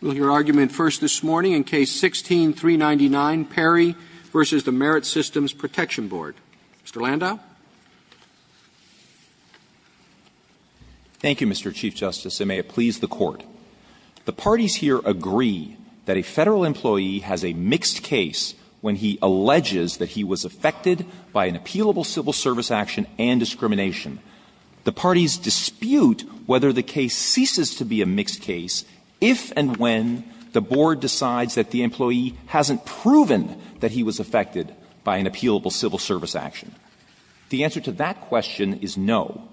Roberts. Roberts. Roberts. Roberts. You're argument first this morning in case 16-399. Perry v. Merit Systems Protection Board. Mr. Landau. Landau. Mr. Chief Justice, it may have pleased the Court. The parties here agree that a Federal employee has a mixed case when he alleges that he was affected by an appealable civil service action and discrimination. The parties dispute whether the case ceases to be a mixed case if and when the Board decides that the employee hasn't proven that he was affected by an appealable civil service action. The answer to that question is no.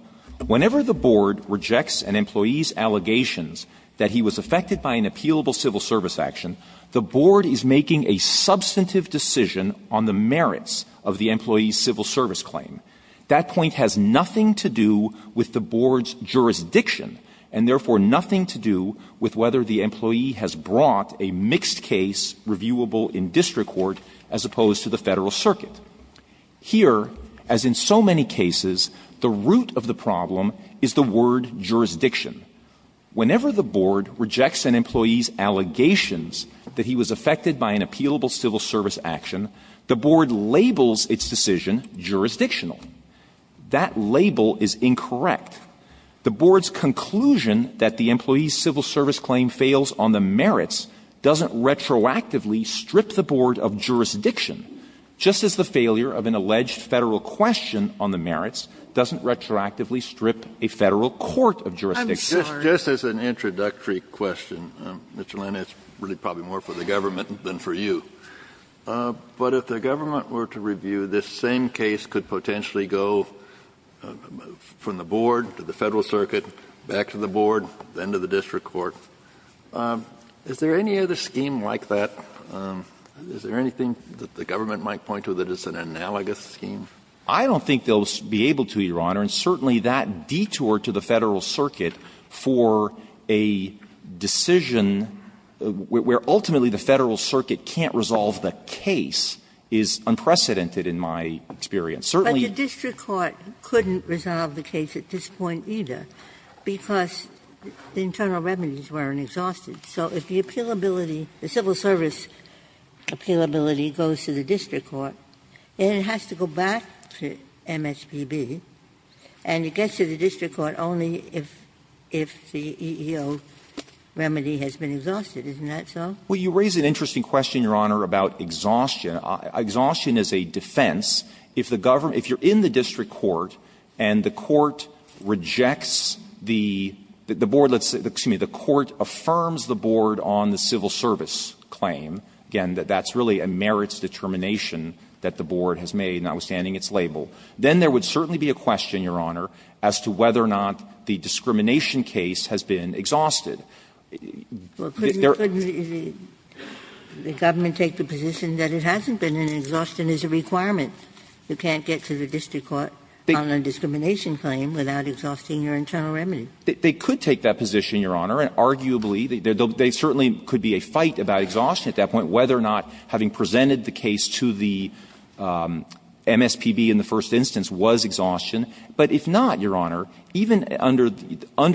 Whenever the Board rejects an employee's allegations that he was affected by an appealable civil service action, the Board is making a substantive decision on the merits of the employee's civil service claim. That point has nothing to do with the Board's jurisdiction and, therefore, nothing to do with whether the employee has brought a mixed case reviewable in district court as opposed to the Federal circuit. Here, as in so many cases, the root of the problem is the word jurisdiction. Whenever the Board rejects an employee's allegations that he was affected by an appealable civil service action, the Board labels its decision jurisdictional. That label is incorrect. The Board's conclusion that the employee's civil service claim fails on the merits doesn't retroactively strip the Board of jurisdiction, just as the failure of an alleged Federal question on the merits doesn't retroactively strip a Federal court of jurisdiction. Kennedy, I'm sorry. Kennedy, just as an introductory question, Mr. Lane, it's probably more for the government than for you. But if the government were to review this same case, could potentially go from the Board to the Federal circuit, back to the Board, then to the district court. Is there any other scheme like that? Is there anything that the government might point to that is an analogous scheme? I don't think they'll be able to, Your Honor, and certainly that detour to the Federal circuit can't resolve the case is unprecedented in my experience. Certainly the district court couldn't resolve the case at this point either because the internal remedies weren't exhausted. So if the appealability, the civil service appealability goes to the district court, then it has to go back to MSPB, and it gets to the district court only if the EEO remedy has been exhausted. Isn't that so? Well, you raise an interesting question, Your Honor, about exhaustion. Exhaustion is a defense. If the government – if you're in the district court and the court rejects the – the Board – excuse me, the court affirms the Board on the civil service claim, again, that that's really a merits determination that the Board has made, notwithstanding its label, then there would certainly be a question, Your Honor, as to whether or not the discrimination case has been exhausted. There are – Well, couldn't the government take the position that it hasn't been, and exhaustion is a requirement? You can't get to the district court on a discrimination claim without exhausting your internal remedy. They could take that position, Your Honor, and arguably they certainly could be a fight about exhaustion at that point, whether or not having presented the case to the MSPB in the first instance was exhaustion. But if not, Your Honor, even under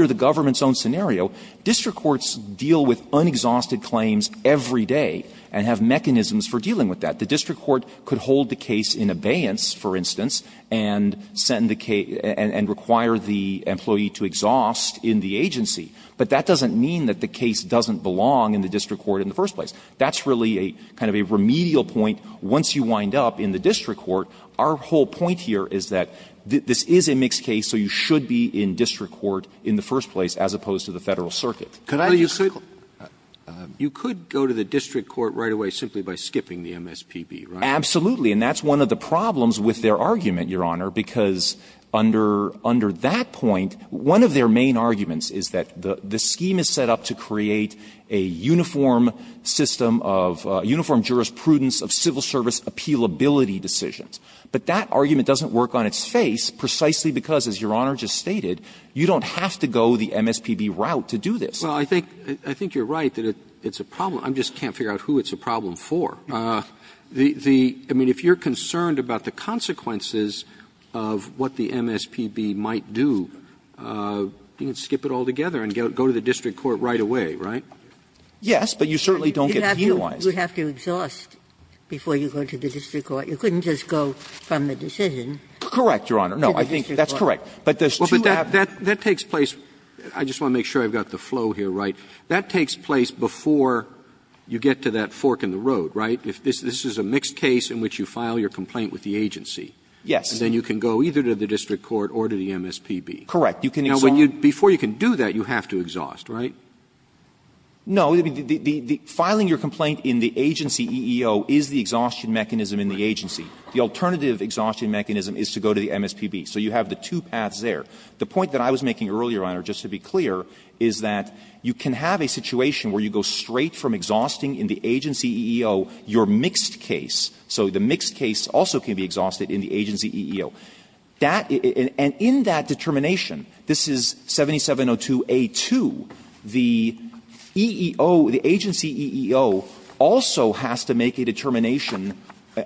the government's own scenario, district courts deal with unexhausted claims every day and have mechanisms for dealing with that. The district court could hold the case in abeyance, for instance, and send the case – and require the employee to exhaust in the agency, but that doesn't mean that the case doesn't belong in the district court in the first place. That's really a kind of a remedial point. Once you wind up in the district court, our whole point here is that this is a mixed case, so you should be in district court in the first place as opposed to the Federal Circuit. Could I just say – You could go to the district court right away simply by skipping the MSPB, right? Absolutely. And that's one of the problems with their argument, Your Honor, because under – under that point, one of their main arguments is that the scheme is set up to create a uniform system of – a uniform jurisprudence of civil service appealability decisions. But that argument doesn't work on its face precisely because, as Your Honor just stated, you don't have to go the MSPB route to do this. Well, I think – I think you're right that it's a problem. I just can't figure out who it's a problem for. The – I mean, if you're concerned about the consequences of what the MSPB might do, you can skip it altogether and go to the district court right away, right? Yes, but you certainly don't get penalized. You have to – you have to exhaust before you go to the district court. You couldn't just go from the decision to the district court. Correct, Your Honor. No, I think that's correct. But there's two – Well, but that – that takes place – I just want to make sure I've got the flow here right. That takes place before you get to that fork in the road, right? If this is a mixed case in which you file your complaint with the agency. Yes. And then you can go either to the district court or to the MSPB. Correct. You can exhaust. Now, before you can do that, you have to exhaust, right? No. Filing your complaint in the agency EEO is the exhaustion mechanism in the agency. The alternative exhaustion mechanism is to go to the MSPB. So you have the two paths there. The point that I was making earlier, Your Honor, just to be clear, is that you can have a situation where you go straight from exhausting in the agency EEO your mixed case, so the mixed case also can be exhausted in the agency EEO. That – and in that determination, this is 7702A2, the EEO – the agency EEO also has to make a determination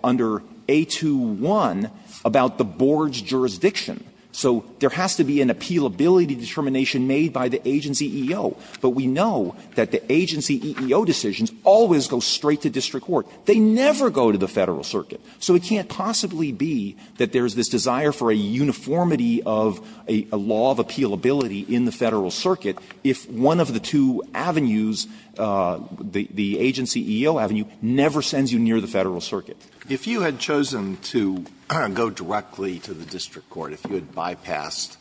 under 821 about the board's jurisdiction. So there has to be an appealability determination made by the agency EEO. But we know that the agency EEO decisions always go straight to district court. They never go to the Federal Circuit. So it can't possibly be that there's this desire for a uniformity of a law of appealability in the Federal Circuit if one of the two avenues, the agency EEO avenue, never sends you near the Federal Circuit. If you had chosen to go directly to the district court, if you had bypassed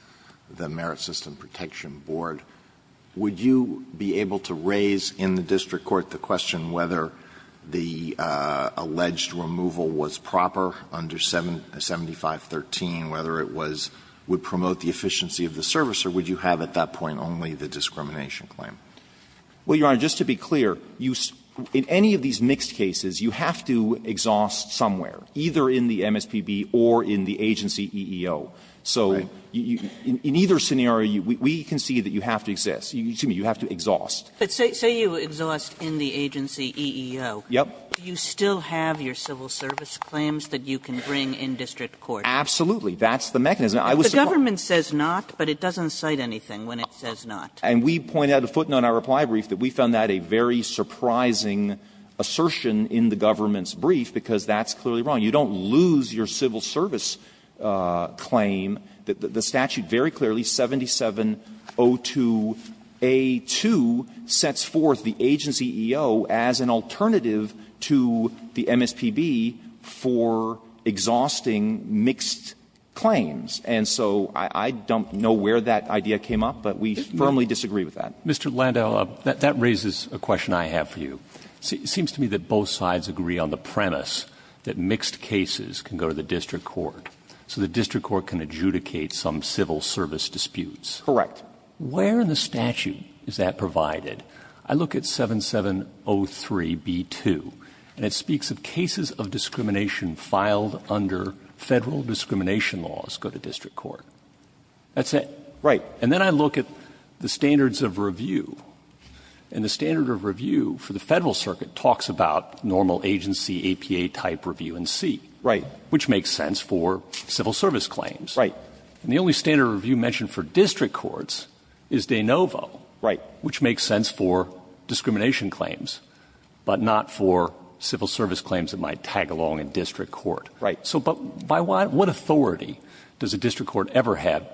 the Merit System Protection Board, would you be able to raise in the district court the question whether the alleged removal was proper under 7513, whether it was – would promote the efficiency of the service, or would you have at that point only the discrimination claim? Well, Your Honor, just to be clear, you – in any of these mixed cases, you have to exhaust somewhere, either in the MSPB or in the agency EEO. So in either scenario, we can see that you have to exist – excuse me, you have to exhaust. But say – say you exhaust in the agency EEO. Yep. Do you still have your civil service claims that you can bring in district court? Absolutely. That's the mechanism. I was surprised. If the government says not, but it doesn't cite anything when it says not. And we point out at the footnote in our reply brief that we found that a very surprising assertion in the government's brief, because that's clearly wrong. You don't lose your civil service claim. The statute very clearly, 7702A2, sets forth the agency EEO as an alternative to the MSPB for exhausting mixed claims. And so I don't know where that idea came up, but we firmly disagree with that. Mr. Landau, that raises a question I have for you. It seems to me that both sides agree on the premise that mixed cases can go to the district court. So the district court can adjudicate some civil service disputes. Correct. Where in the statute is that provided? I look at 7703B2, and it speaks of cases of discrimination filed under Federal discrimination laws go to district court. That's it. Right. And then I look at the standards of review. And the standard of review for the Federal Circuit talks about normal agency, APA-type review in C. Right. Which makes sense for civil service claims. Right. And the only standard of review mentioned for district courts is de novo. Right. Which makes sense for discrimination claims, but not for civil service claims that might tag along in district court. Right. So by what authority does a district court ever have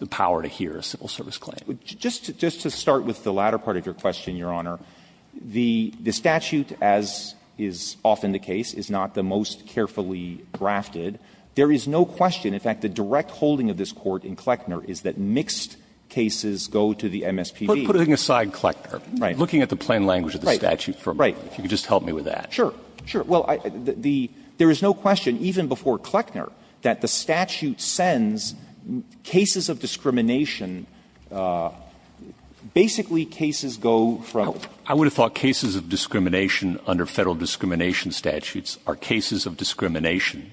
the power to hear a civil service claim? Just to start with the latter part of your question, Your Honor, the statute, as is often the case, is not the most carefully drafted. There is no question, in fact, the direct holding of this Court in Kleckner is that mixed cases go to the MSPB. But putting aside Kleckner, looking at the plain language of the statute for a moment, if you could just help me with that. Sure. Sure. Well, there is no question, even before Kleckner, that the statute sends cases of discrimination, basically, cases go from the district court. But the fact of the matter is that the federal statute, the MSPB statutes, are cases of discrimination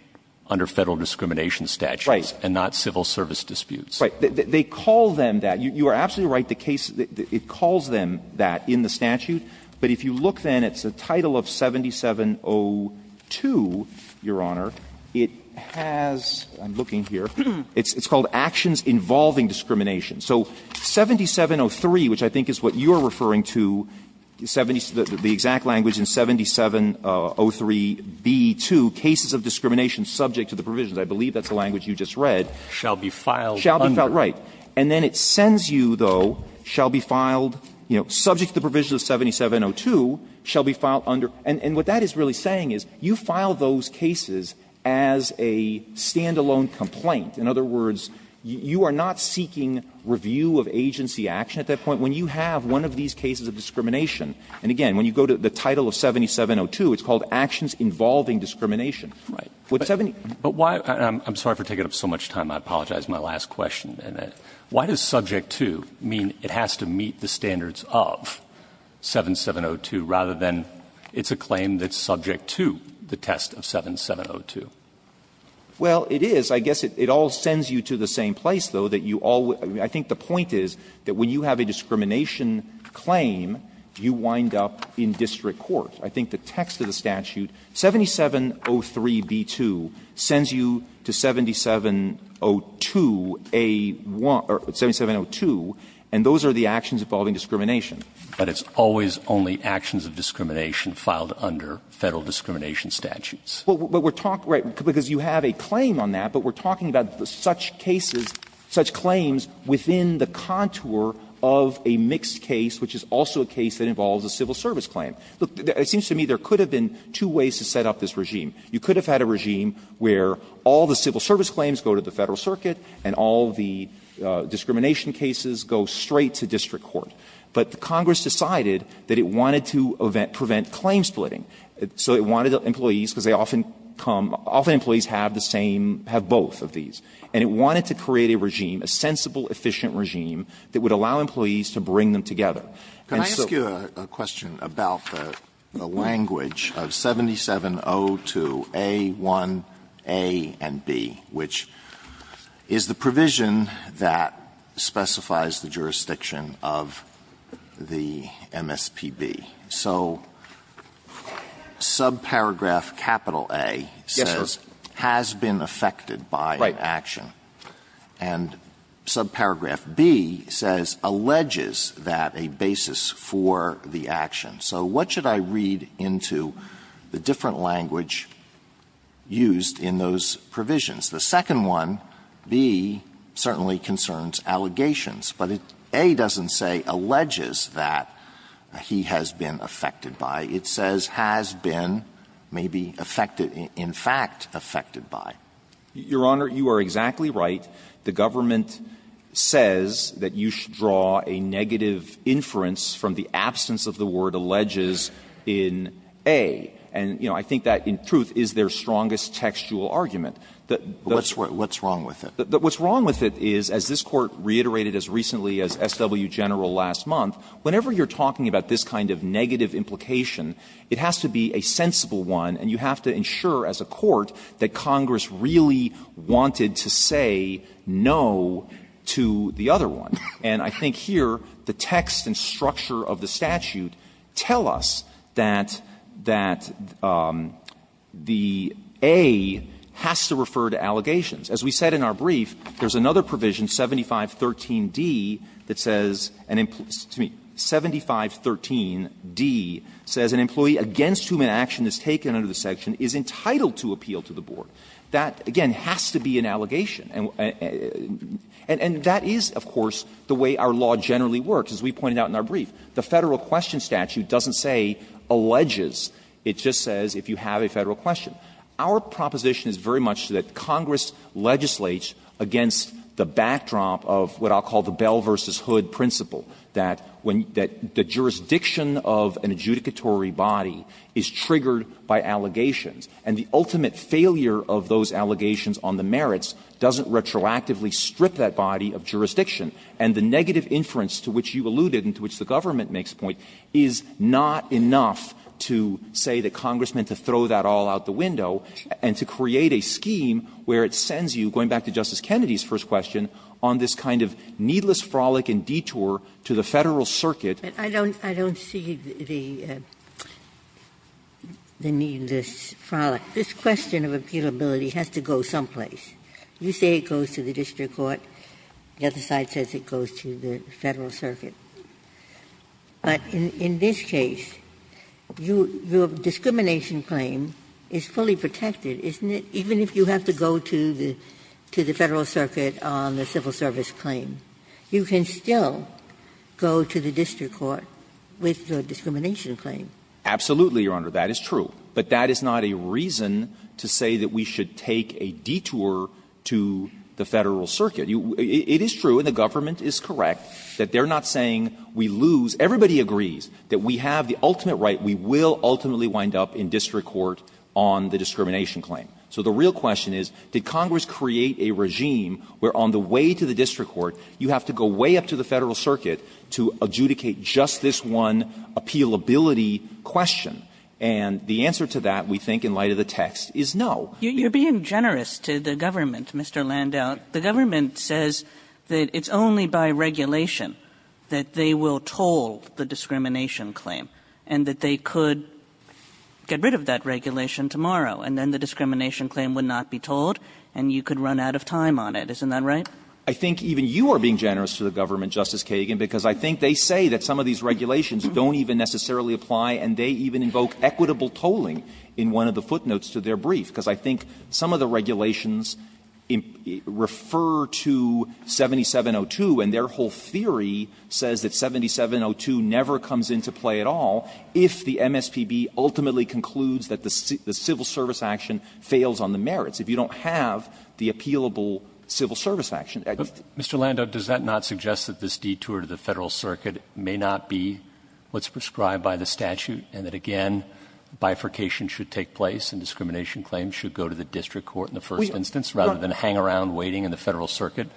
under federal discrimination statutes and not civil service disputes. Right. They call them that. You are absolutely right. The case, it calls them that in the statute. But if you look then, it's a title of 7702, Your Honor. It has, I'm looking here, it's called Actions Involving Discrimination. So 7703, which I think is what you are referring to, the exact language in 7703b2, cases of discrimination subject to the provisions, I believe that's the language you just read, shall be filed under. Right. And then it sends you, though, shall be filed, you know, subject to the provisions of 7702, shall be filed under. And what that is really saying is you file those cases as a stand-alone complaint. In other words, you are not seeking review of agency action at that point. When you have one of these cases of discrimination, and again, when you go to the title of 7702, it's called Actions Involving Discrimination. But 7- But why, I'm sorry for taking up so much time, I apologize, my last question. Why does subject to mean it has to meet the standards of 7702 rather than it's a claim that's subject to the test of 7702? Well, it is. I guess it all sends you to the same place, though, that you all will – I think the point is that when you have a discrimination claim, you wind up in district court. I think the text of the statute, 7703b2, sends you to 7702a1 – or 7702, and those are the actions involving discrimination. But it's always only actions of discrimination filed under Federal discrimination statutes. Well, but we're talking – right, because you have a claim on that, but we're talking about such cases, such claims within the contour of a mixed case, which is also a case that involves a civil service claim. Look, it seems to me there could have been two ways to set up this regime. You could have had a regime where all the civil service claims go to the Federal circuit, and all the discrimination cases go straight to district court. But Congress decided that it wanted to prevent claim splitting. So it wanted employees, because they often come – often employees have the same – have both of these. And it wanted to create a regime, a sensible, efficient regime, that would allow employees to bring them together. And so – Alitoso, can I ask you a question about the language of 7702a1a and b, which is the provision that specifies the jurisdiction of the MSPB. So subparagraph capital A says, has been affected by an action. And subparagraph b says, alleges that a basis for the action. So what should I read into the different language used in those provisions? The second one, b, certainly concerns allegations. But a doesn't say, alleges that he has been affected by. It says, has been, maybe affected – in fact, affected by. Your Honor, you are exactly right. The government says that you should draw a negative inference from the absence of the word, alleges, in a. And, you know, I think that, in truth, is their strongest textual argument. What's wrong with it? What's wrong with it is, as this Court reiterated as recently as SW General last month, whenever you're talking about this kind of negative implication, it has to be a sensible one, and you have to ensure as a Court that Congress really wanted to say no to the other one. And I think here, the text and structure of the statute tell us that the a has to refer to allegations. As we said in our brief, there's another provision, 7513d, that says an employee – excuse me, 7513d says an employee against whom an action is taken under the section is entitled to appeal to the board. That, again, has to be an allegation. And that is, of course, the way our law generally works. As we pointed out in our brief, the Federal question statute doesn't say, alleges. It just says, if you have a Federal question. Our proposition is very much that Congress legislates against the backdrop of what I'll call the Bell v. Hood principle, that when the jurisdiction of an adjudicatory body is triggered by allegations, and the ultimate failure of those allegations on the merits doesn't retroactively strip that body of jurisdiction. And the negative inference to which you alluded and to which the government makes a point is not enough to say that Congress meant to throw that all out the window and to create a scheme where it sends you, going back to Justice Kennedy's first question, on this kind of needless frolic and detour to the Federal circuit. Ginsburg. I don't see the needless frolic. This question of appealability has to go someplace. You say it goes to the district court. The other side says it goes to the Federal circuit. But in this case, your discrimination claim is fully protected, isn't it? Even if you have to go to the Federal circuit on the civil service claim, you can still go to the district court with the discrimination claim. Absolutely, Your Honor. That is true. But that is not a reason to say that we should take a detour to the Federal circuit. It is true, and the government is correct, that they're not saying we lose — everybody agrees that we have the ultimate right, we will ultimately wind up in district court on the discrimination claim. So the real question is, did Congress create a regime where on the way to the district court you have to go way up to the Federal circuit to adjudicate just this one appealability question? And the answer to that, we think, in light of the text, is no. Kagan. You're being generous to the government, Mr. Landau. The government says that it's only by regulation that they will toll the discrimination claim and that they could get rid of that regulation tomorrow, and then the discrimination claim would not be tolled and you could run out of time on it. Isn't that right? I think even you are being generous to the government, Justice Kagan, because I think they say that some of these regulations don't even necessarily apply, and they even evoke equitable tolling in one of the footnotes to their brief, because I think some of the regulations refer to 7702, and their whole theory says that 7702 never comes into play at all if the MSPB ultimately concludes that the civil service action fails on the merits, if you don't have the appealable civil service action. Mr. Landau, does that not suggest that this detour to the Federal circuit may not be what's prescribed by the statute, and that, again, bifurcation should take place and discrimination claims should go to the district court in the first instance rather than hang around waiting in the Federal circuit,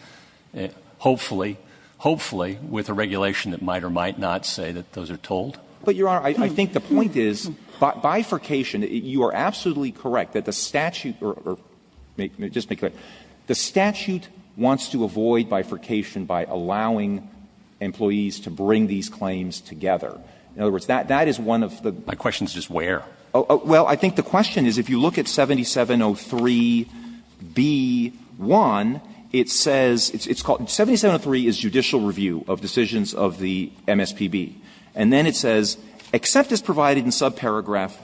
hopefully, hopefully, with a regulation that might or might not say that those are tolled? But, Your Honor, I think the point is bifurcation, you are absolutely correct that the statute or, just to be clear, the statute wants to avoid bifurcation by allowing employees to bring these claims together. In other words, that is one of the questions. Roberts, my question is just where? Well, I think the question is if you look at 7703b1, it says, it's called, 7703 is judicial review of decisions of the MSPB, and then it says, except as provided in subparagraph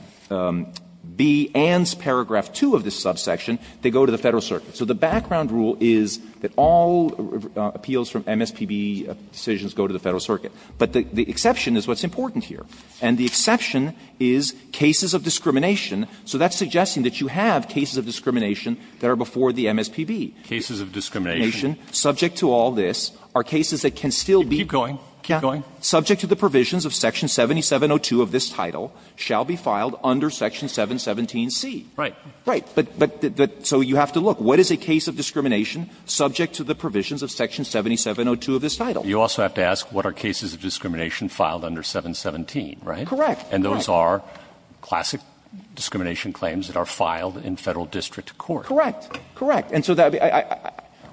b and paragraph 2 of this subsection, they go to the Federal circuit. So the background rule is that all appeals from MSPB decisions go to the Federal circuit, but the exception is what's important here, and the exception is cases of discrimination, so that's suggesting that you have cases of discrimination that are before the MSPB. Cases of discrimination. Subject to all this are cases that can still be. Keep going. Keep going. Subject to the provisions of section 7702 of this title shall be filed under section 717c. Right. Right. But so you have to look. What is a case of discrimination subject to the provisions of section 7702 of this title? You also have to ask what are cases of discrimination filed under 717, right? Correct. And those are classic discrimination claims that are filed in Federal district court. Correct. Correct. And so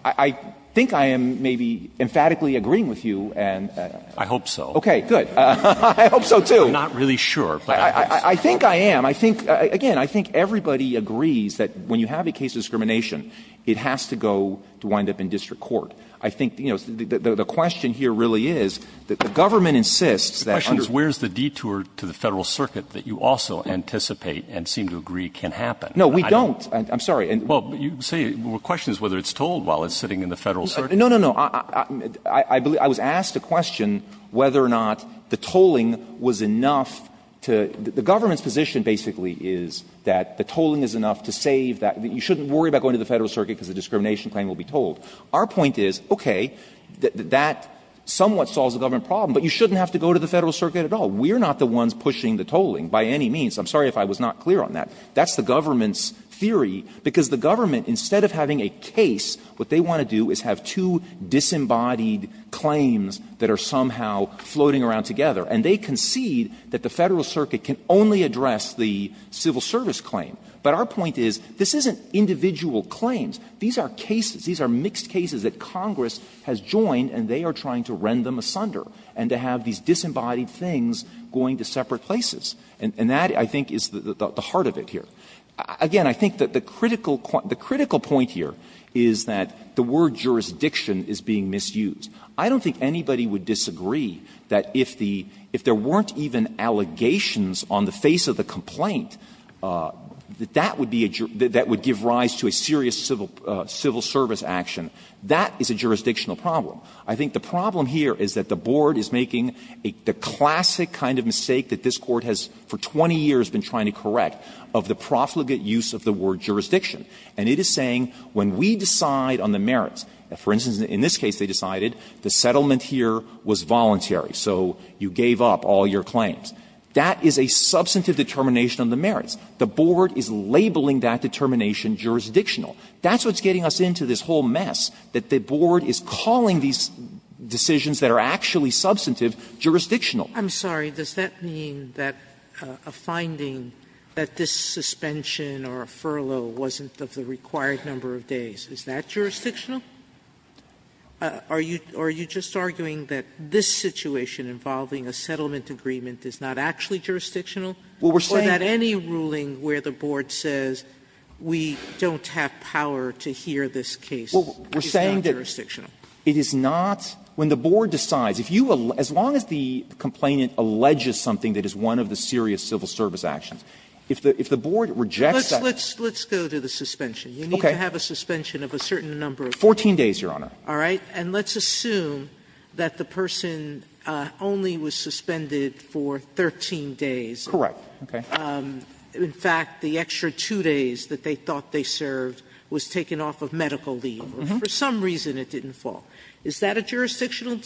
I think I am maybe emphatically agreeing with you, and I hope so. Okay, good. I hope so, too. I'm not really sure, but I think I am. I think, again, I think everybody agrees that when you have a case of discrimination, it has to go to wind up in district court. I think, you know, the question here really is that the government insists that under the The question is where is the detour to the Federal circuit that you also anticipate and seem to agree can happen? No, we don't. I'm sorry. Well, you say the question is whether it's told while it's sitting in the Federal circuit. No, no, no. I was asked a question whether or not the tolling was enough to the government's position basically is that the tolling is enough to save that, that you shouldn't worry about going to the Federal circuit because the discrimination claim will be told. Our point is, okay, that somewhat solves the government problem, but you shouldn't have to go to the Federal circuit at all. We are not the ones pushing the tolling by any means. I'm sorry if I was not clear on that. That's the government's theory, because the government, instead of having a case, what they want to do is have two disembodied claims that are somehow floating around together. And they concede that the Federal circuit can only address the civil service claim. But our point is, this isn't individual claims. These are cases. These are mixed cases that Congress has joined and they are trying to rend them asunder and to have these disembodied things going to separate places. And that, I think, is the heart of it here. Again, I think that the critical point here is that the word jurisdiction is being misused. I don't think anybody would disagree that if the – if there weren't even allegations on the face of the complaint, that that would be a – that would give rise to a serious civil service action. That is a jurisdictional problem. I think the problem here is that the Board is making the classic kind of mistake that this Court has for 20 years been trying to correct of the profligate use of the word jurisdiction. And it is saying, when we decide on the merits, for instance, in this case they decided the settlement here was voluntary, so you gave up all your claims. That is a substantive determination on the merits. The Board is labeling that determination jurisdictional. That's what's getting us into this whole mess, that the Board is calling these decisions that are actually substantive jurisdictional. Sotomayor, I'm sorry. Does that mean that a finding that this suspension or a furlough wasn't of the required number of days, is that jurisdictional? Are you – are you just arguing that this situation involving a settlement agreement is not actually jurisdictional? Or that any ruling where the Board says we don't have power to hear this case is not jurisdictional? It is not – when the Board decides, if you – as long as the complainant alleges something that is one of the serious civil service actions, if the Board rejects that – Let's go to the suspension. You need to have a suspension of a certain number of days. Fourteen days, Your Honor. All right. And let's assume that the person only was suspended for 13 days. Correct. Okay. In fact, the extra two days that they thought they served was taken off of medical leave. For some reason it didn't fall. Is that a jurisdictional?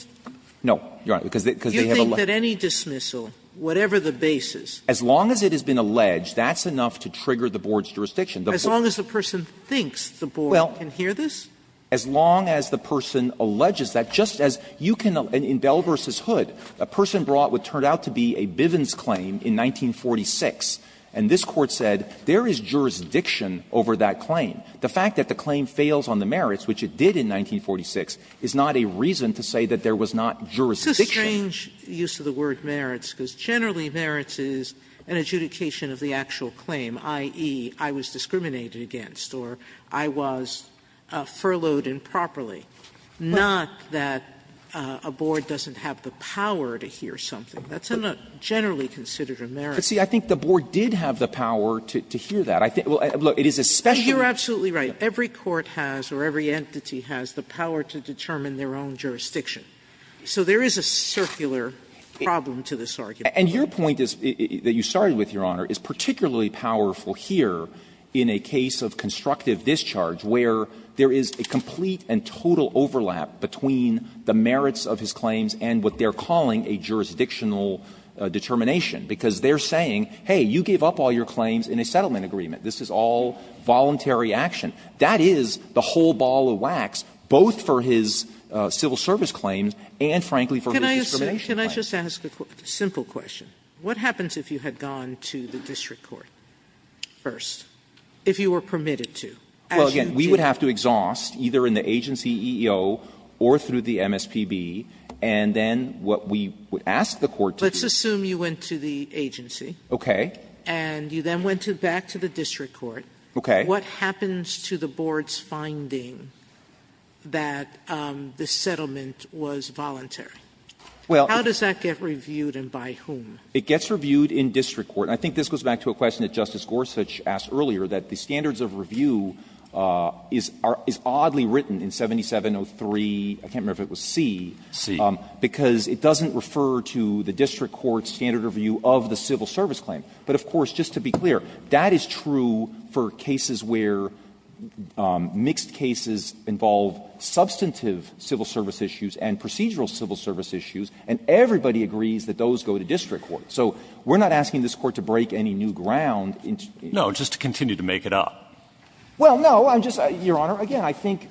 No, Your Honor, because they have a legitimacy. Do you think that any dismissal, whatever the basis – As long as it has been alleged, that's enough to trigger the Board's jurisdiction. As long as the person thinks the Board can hear this? As long as the person alleges that, just as you can – in Bell v. Hood, a person brought what turned out to be a Bivens claim in 1946, and this Court said there is jurisdiction over that claim. The fact that the claim fails on the merits, which it did in 1946, is not a reason to say that there was not jurisdiction. It's a strange use of the word merits, because generally merits is an adjudication of the actual claim, i.e., I was discriminated against or I was furloughed improperly. Not that a Board doesn't have the power to hear something. That's not generally considered a merit. But, see, I think the Board did have the power to hear that. I think – look, it is especially – You're absolutely right. Every court has or every entity has the power to determine their own jurisdiction. So there is a circular problem to this argument. And your point is – that you started with, Your Honor, is particularly powerful here in a case of constructive discharge, where there is a complete and total overlap between the merits of his claims and what they're calling a jurisdictional determination, because they're saying, hey, you gave up all your claims in a settlement agreement, this is all voluntary action. That is the whole ball of wax, both for his civil service claims and, frankly, for his discrimination claims. Sotomayor, can I just ask a simple question? What happens if you had gone to the district court first, if you were permitted to? Well, again, we would have to exhaust, either in the agency EEO or through the MSPB, and then what we would ask the court to do is – Let's assume you went to the agency. Okay. And you then went back to the district court. Okay. What happens to the Board's finding that the settlement was voluntary? How does that get reviewed and by whom? It gets reviewed in district court. I think this goes back to a question that Justice Gorsuch asked earlier, that the standards of review is oddly written in 7703, I can't remember if it was C, because it doesn't refer to the district court's standard review of the civil service claim. But, of course, just to be clear, that is true for cases where mixed cases involve substantive civil service issues and procedural civil service issues, and everybody agrees that those go to district court. So we're not asking this Court to break any new ground. No, just to continue to make it up. Well, no, I'm just – Your Honor, again, I think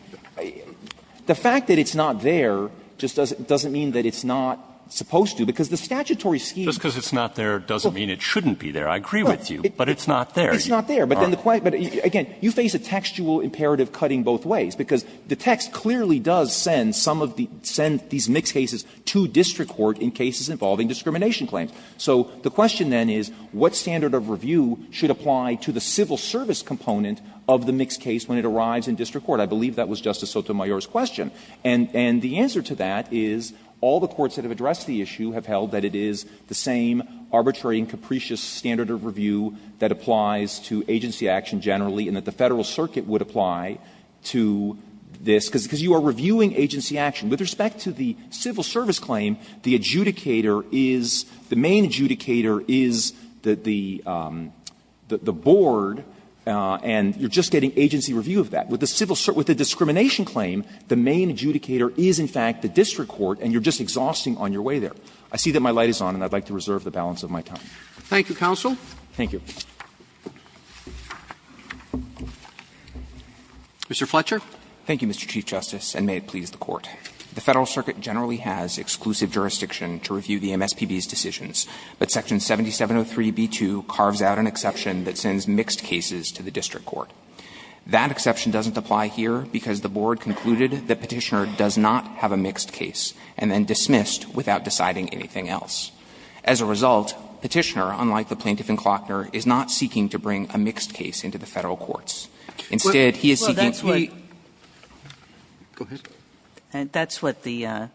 the fact that it's not there just doesn't mean that it's not supposed to, because the statutory scheme – Just because it's not there doesn't mean it shouldn't be there. I agree with you, but it's not there. It's not there. But then the – but, again, you face a textual imperative cutting both ways, because the text clearly does send some of the – send these mixed cases to district court in cases involving discrimination claims. So the question, then, is what standard of review should apply to the civil service component of the mixed case when it arrives in district court? I believe that was Justice Sotomayor's question. And the answer to that is all the courts that have addressed the issue have held that it is the same arbitrary and capricious standard of review that applies to agency action generally and that the Federal Circuit would apply to this, because you are reviewing agency action. With respect to the civil service claim, the adjudicator is – the main adjudicator is the – the board, and you're just getting agency review of that. With the civil – with the discrimination claim, the main adjudicator is, in fact, the district court, and you're just exhausting on your way there. I see that my light is on, and I'd like to reserve the balance of my time. Thank you, counsel. Thank you. Mr. Fletcher. Thank you, Mr. Chief Justice, and may it please the Court. The Federal Circuit generally has exclusive jurisdiction to review the MSPB's decisions, but Section 7703b2 carves out an exception that sends mixed cases to the district court. That exception doesn't apply here because the board concluded that Petitioner does not have a mixed case and then dismissed without deciding anything else. As a result, Petitioner, unlike the plaintiff in Klockner, is not seeking to bring a mixed case into the Federal courts. Instead, he is seeking to be – Well, that's what – go ahead. That's what the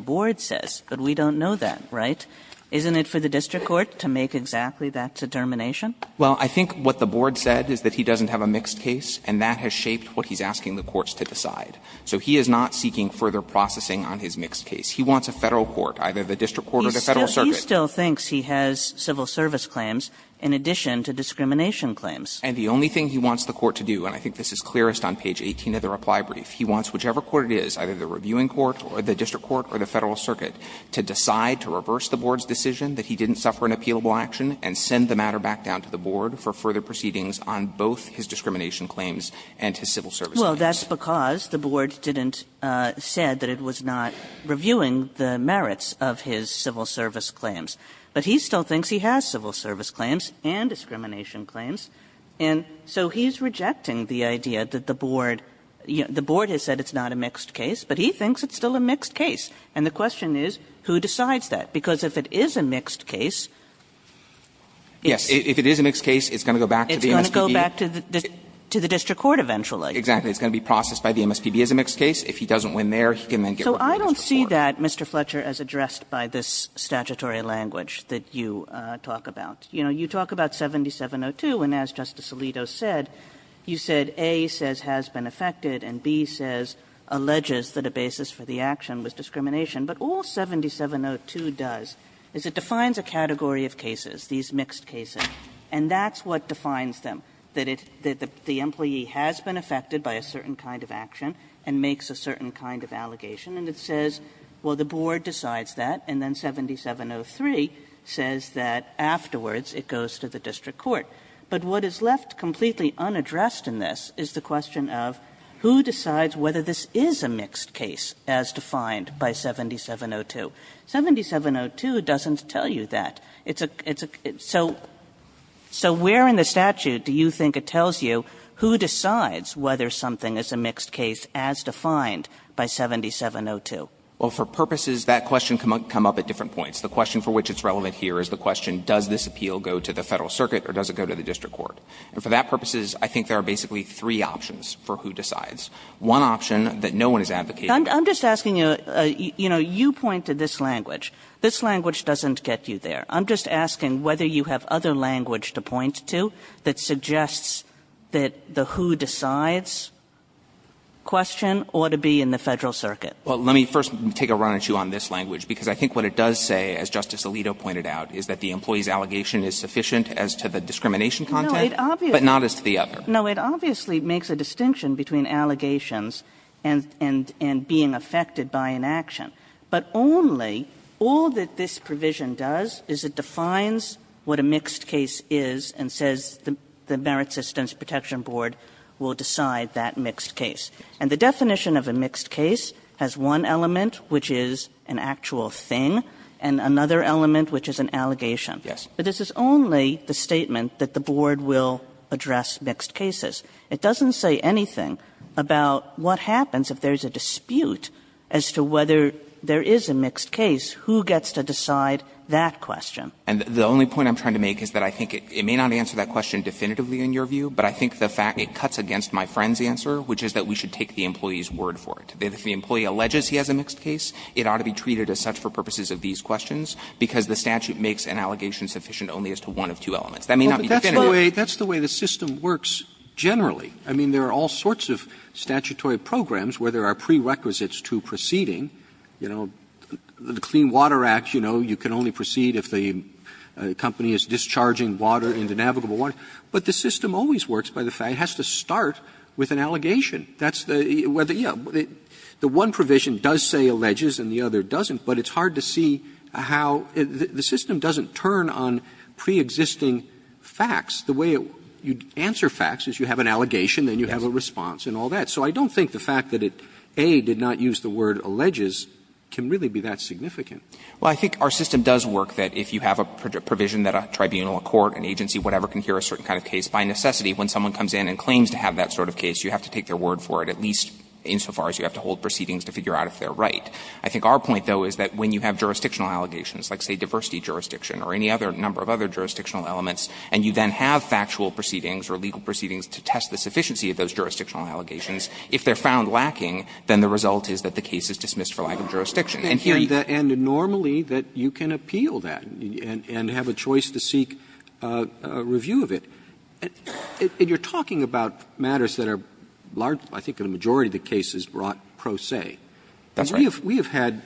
board says, but we don't know that, right? Isn't it for the district court to make exactly that determination? Well, I think what the board said is that he doesn't have a mixed case, and that has shaped what he's asking the courts to decide. So he is not seeking further processing on his mixed case. He wants a Federal court, either the district court or the Federal court. But he still thinks he has civil service claims in addition to discrimination claims. And the only thing he wants the court to do, and I think this is clearest on page 18 of the reply brief, he wants whichever court it is, either the reviewing court or the district court or the Federal circuit, to decide to reverse the board's decision that he didn't suffer an appealable action and send the matter back down to the board for further proceedings on both his discrimination claims and his civil service claims. Well, that's because the board didn't – said that it was not reviewing the merits of his civil service claims. But he still thinks he has civil service claims and discrimination claims. And so he's rejecting the idea that the board – the board has said it's not a mixed case, but he thinks it's still a mixed case. And the question is, who decides that? Because if it is a mixed case, it's going to go back to the MSPB. It's going to go back to the district court eventually. Exactly. It's going to be processed by the MSPB as a mixed case. If he doesn't win there, he can then get back to the district court. So I don't see that, Mr. Fletcher, as addressed by this statutory language that you talk about. You know, you talk about 7702, and as Justice Alito said, you said A says has been affected and B says alleges that a basis for the action was discrimination. But all 7702 does is it defines a category of cases, these mixed cases, and that's what defines them, that it – that the employee has been affected by a certain kind of action and makes a certain kind of allegation. And it says, well, the board decides that, and then 7703 says that afterwards it goes to the district court. But what is left completely unaddressed in this is the question of who decides whether this is a mixed case, as defined by 7702. 7702 doesn't tell you that. It's a – so where in the statute do you think it tells you who decides whether something is a mixed case as defined by 7702? Well, for purposes, that question can come up at different points. The question for which it's relevant here is the question, does this appeal go to the Federal Circuit or does it go to the district court? And for that purposes, I think there are basically three options for who decides, one option that no one is advocating. I'm just asking you, you know, you point to this language. This language doesn't get you there. I'm just asking whether you have other language to point to that suggests that the who decides question ought to be in the Federal Circuit. Well, let me first take a run at you on this language, because I think what it does say, as Justice Alito pointed out, is that the employee's allegation is sufficient as to the discrimination content, but not as to the other. No, it obviously makes a distinction between allegations and being affected by an action. But only, all that this provision does is it defines what a mixed case is and says the Merit Systems Protection Board will decide that mixed case. And the definition of a mixed case has one element, which is an actual thing, and another element, which is an allegation. But this is only the statement that the Board will address mixed cases. It doesn't say anything about what happens if there is a dispute as to whether there is a mixed case, who gets to decide that question. And the only point I'm trying to make is that I think it may not answer that question definitively in your view, but I think the fact it cuts against my friend's answer, which is that we should take the employee's word for it. If the employee alleges he has a mixed case, it ought to be treated as such for purposes of these questions, because the statute makes an allegation sufficient only as to one of two elements. That may not be definitive. Roberts, that's the way the system works generally. I mean, there are all sorts of statutory programs where there are prerequisites to proceeding. You know, the Clean Water Act, you know, you can only proceed if the company is discharging water into navigable water. But the system always works by the fact it has to start with an allegation. That's the one provision does say alleges and the other doesn't, but it's hard to see how the system doesn't turn on preexisting facts. The way you answer facts is you have an allegation, then you have a response and all that. So I don't think the fact that it, A, did not use the word alleges can really be that significant. Well, I think our system does work that if you have a provision that a tribunal, a court, an agency, whatever, can hear a certain kind of case, by necessity when someone comes in and claims to have that sort of case, you have to take their word for it, at least insofar as you have to hold proceedings to figure out if they are right. I think our point, though, is that when you have jurisdictional allegations, like, say, diversity jurisdiction or any other number of other jurisdictional elements, and you then have factual proceedings or legal proceedings to test the case, if they are found lacking, then the result is that the case is dismissed for lack of jurisdiction. And here you can't appeal that and have a choice to seek a review of it. And you are talking about matters that are large, I think the majority of the cases brought pro se. That's right. We have had,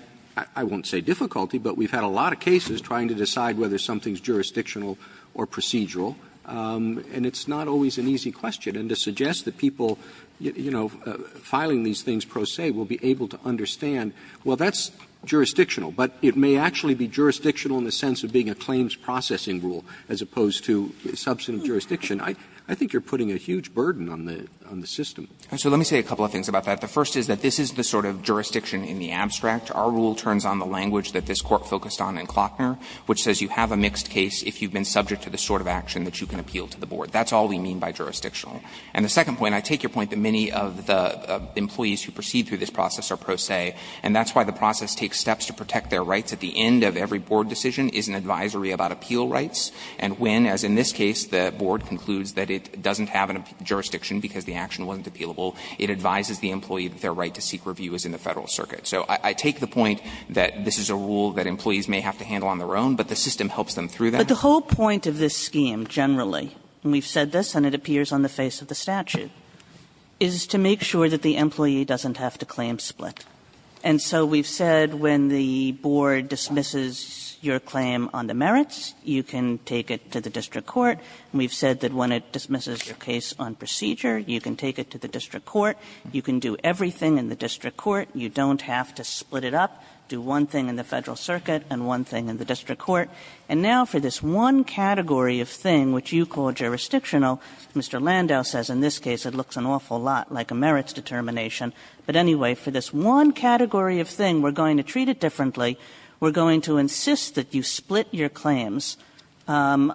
I won't say difficulty, but we have had a lot of cases trying to decide whether something is jurisdictional or procedural, and it's not always an easy question. And to suggest that people, you know, filing these things pro se will be able to understand, well, that's jurisdictional, but it may actually be jurisdictional in the sense of being a claims processing rule as opposed to substantive jurisdiction, I think you are putting a huge burden on the system. So let me say a couple of things about that. The first is that this is the sort of jurisdiction in the abstract. Our rule turns on the language that this Court focused on in Klockner, which says you have a mixed case if you have been subject to the sort of action that you can appeal to the board. That's all we mean by jurisdictional. And the second point, I take your point that many of the employees who proceed through this process are pro se, and that's why the process takes steps to protect their rights. At the end of every board decision is an advisory about appeal rights, and when, as in this case, the board concludes that it doesn't have a jurisdiction because the action wasn't appealable, it advises the employee that their right to seek review is in the Federal circuit. So I take the point that this is a rule that employees may have to handle on their own, but the system helps them through that. But the whole point of this scheme, generally, and we've said this and it appears on the face of the statute, is to make sure that the employee doesn't have to claim split. And so we've said when the board dismisses your claim on the merits, you can take it to the district court, and we've said that when it dismisses your case on procedure, you can take it to the district court, you can do everything in the district court, you don't have to split it up, do one thing in the Federal circuit and one thing in the district court. And now for this one category of thing which you call jurisdictional, Mr. Landau says in this case it looks an awful lot like a merits determination, but anyway, for this one category of thing, we're going to treat it differently, we're going to insist that you split your claims and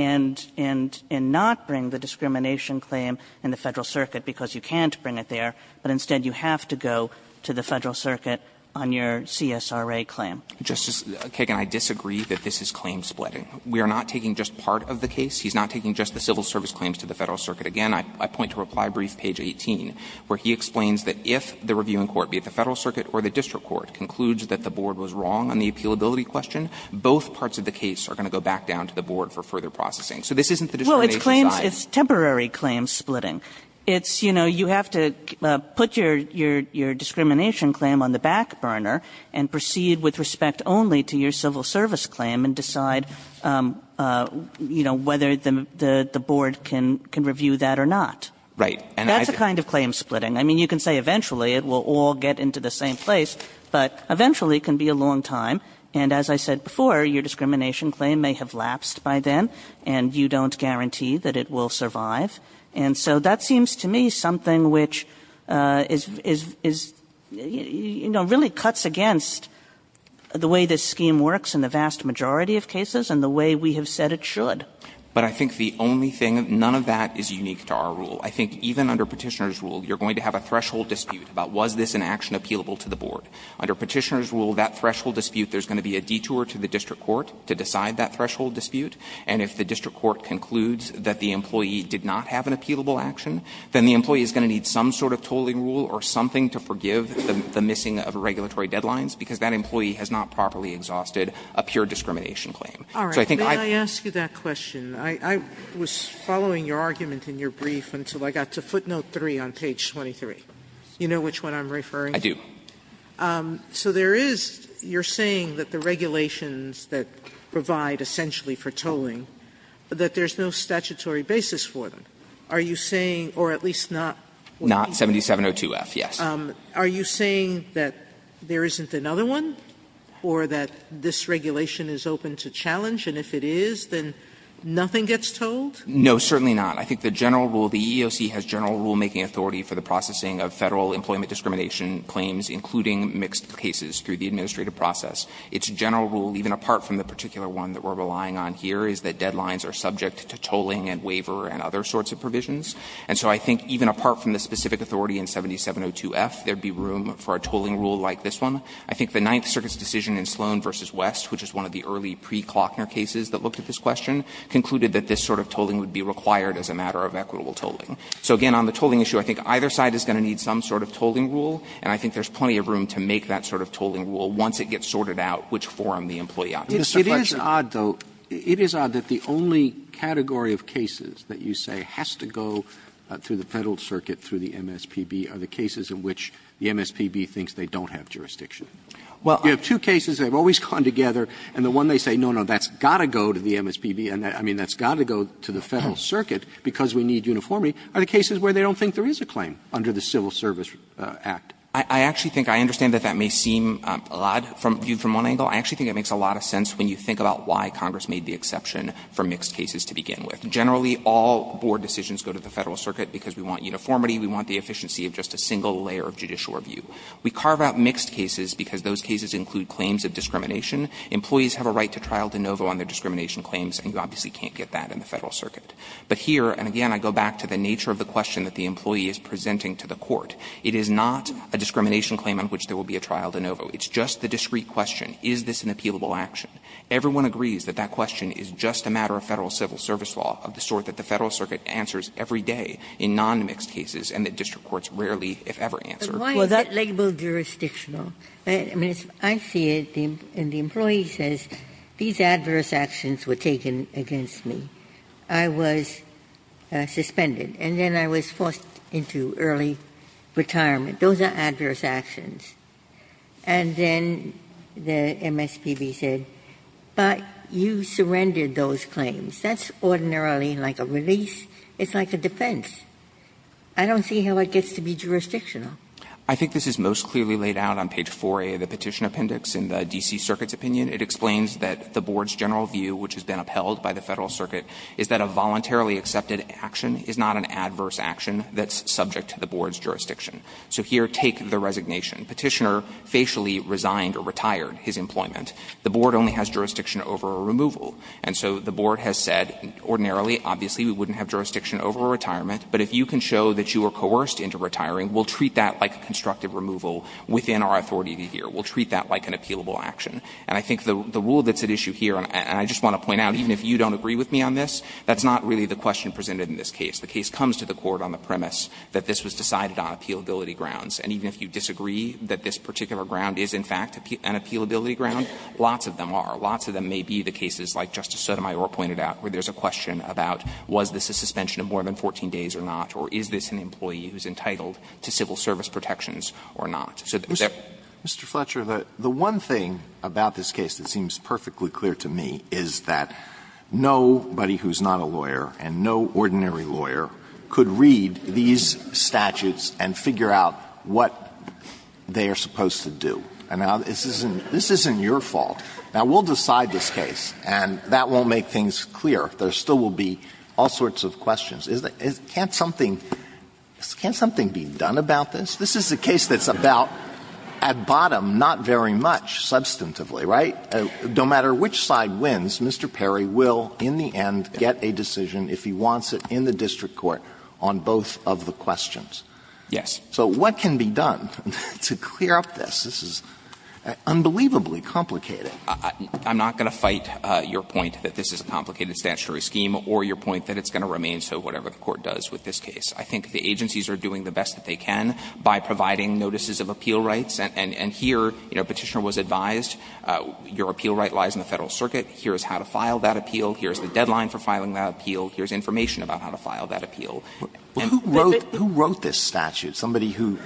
not bring the discrimination claim in the Federal circuit because you can't bring it there, but instead you have to go to the Federal circuit on your CSRA claim. Landau, Justice Kagan, I disagree that this is claim splitting. We are not taking just part of the case, he's not taking just the civil service claims to the Federal circuit. Again, I point to reply brief page 18, where he explains that if the reviewing court, be it the Federal circuit or the district court, concludes that the board was wrong on the appealability question, both parts of the case are going to go back down to the board for further processing. So this isn't the discrimination side. Kagan It's temporary claim splitting. It's, you know, you have to put your discrimination claim on the back burner and proceed with respect only to your civil service claim and decide, you know, whether the board can review that or not. That's the kind of claim splitting. I mean, you can say eventually it will all get into the same place, but eventually it can be a long time, and as I said before, your discrimination claim may have lapsed by then and you don't guarantee that it will survive. And so that seems to me something which is, you know, really cuts against the way this scheme works in the vast majority of cases and the way we have said it should. Goldstein But I think the only thing, none of that is unique to our rule. I think even under Petitioner's rule, you're going to have a threshold dispute about was this an action appealable to the board. Under Petitioner's rule, that threshold dispute, there's going to be a detour to the district court to decide that threshold dispute, and if the district court concludes that the employee did not have an appealable action, then the employee is going to need some sort of tolling rule or something to forgive the missing of regulatory deadlines, because that employee has not properly exhausted a pure discrimination So I think I've Sotomayor All right. May I ask you that question? I was following your argument in your brief until I got to footnote 3 on page 23. You know which one I'm referring to? Goldstein I do. Sotomayor So there is, you're saying that the regulations that provide essentially for tolling, that there's no statutory basis for them. Are you saying, or at least not Goldstein Not 7702F, yes. Sotomayor Are you saying that there isn't another one or that this regulation is open to challenge, and if it is, then nothing gets tolled? Goldstein No, certainly not. I think the general rule, the EEOC has general rulemaking authority for the processing of Federal employment discrimination claims, including mixed cases through the administrative process. Its general rule, even apart from the particular one that we're relying on here, is that deadlines are subject to tolling and waiver and other sorts of provisions. And so I think even apart from the specific authority in 7702F, there would be room for a tolling rule like this one. I think the Ninth Circuit's decision in Sloan v. West, which is one of the early pre-Klockner cases that looked at this question, concluded that this sort of tolling would be required as a matter of equitable tolling. So again, on the tolling issue, I think either side is going to need some sort of tolling rule, and I think there's plenty of room to make that sort of tolling rule once it gets sorted out, which forum the employee option is. Roberts It is odd, though, it is odd that the only category of cases that you say has to go through the Federal Circuit, through the MSPB, are the cases in which the MSPB thinks they don't have jurisdiction. Goldstein Well, I Roberts You have two cases that have always come together, and the one they say, no, no, that's got to go to the MSPB, and I mean, that's got to go to the Federal Circuit because we need uniformity, are the cases where they don't think there is a claim under the Civil Service Act. Goldstein I actually think, I understand that that may seem odd viewed from one angle. I actually think it makes a lot of sense when you think about why Congress made the exception for mixed cases to begin with. Generally, all board decisions go to the Federal Circuit because we want uniformity, we want the efficiency of just a single layer of judicial review. We carve out mixed cases because those cases include claims of discrimination. Employees have a right to trial de novo on their discrimination claims, and you obviously can't get that in the Federal Circuit. But here, and again, I go back to the nature of the question that the employee is presenting to the court. It is not a discrimination claim on which there will be a trial de novo. It's just the discrete question, is this an appealable action? Everyone agrees that that question is just a matter of Federal civil service law of the sort that the Federal Circuit answers every day in nonmixed cases and that district courts rarely, if ever, answer. Ginsburg. Why is that labeled jurisdictional? I mean, I see it, and the employee says, these adverse actions were taken against me. I was suspended. And then I was forced into early retirement. Those are adverse actions. And then the MSPB said, but you surrendered those claims. That's ordinarily like a release. It's like a defense. I don't see how it gets to be jurisdictional. I think this is most clearly laid out on page 4a of the petition appendix in the D.C. Circuit's opinion. And I think the rule that's at issue here, and I just want to point out, even if you don't agree with me on this, is that a voluntarily accepted action is not an adverse action that's subject to the board's jurisdiction. So here, take the resignation. Petitioner facially resigned or retired his employment. The board only has jurisdiction over a removal. And so the board has said, ordinarily, obviously, we wouldn't have jurisdiction over a retirement. But if you can show that you were coerced into retiring, we'll treat that like a constructive removal within our authority here. We'll treat that like an appealable action. And I think the rule that's at issue here, and I just want to point out, even if you don't agree with me on this, that's not really the question presented in this case. The case comes to the Court on the premise that this was decided on appealability And even if you disagree that this particular ground is, in fact, an appealability ground, lots of them are. Lots of them may be the cases like Justice Sotomayor pointed out, where there's a question about was this a suspension of more than 14 days or not, or is this an employee who's entitled to civil service protections or not. So there's a question. Alito, Mr. Fletcher, the one thing about this case that seems perfectly clear to me is that nobody who's not a lawyer and no ordinary lawyer could read these statutes and figure out what they are supposed to do. And now this isn't your fault. Now, we'll decide this case, and that won't make things clear. There still will be all sorts of questions. Can't something be done about this? This is a case that's about, at bottom, not very much substantively, right? No matter which side wins, Mr. Perry will, in the end, get a decision, if he wants it, in the district court on both of the questions. Yes. So what can be done to clear up this? This is unbelievably complicated. I'm not going to fight your point that this is a complicated statutory scheme or your point that it's going to remain so, whatever the Court does with this case. I think the agencies are doing the best that they can by providing notices of appeal rights, and here, you know, Petitioner was advised, your appeal right lies in the Federal Circuit. Here's how to file that appeal. Here's the deadline for filing that appeal. Here's information about how to file that appeal. And who wrote this statute? Somebody who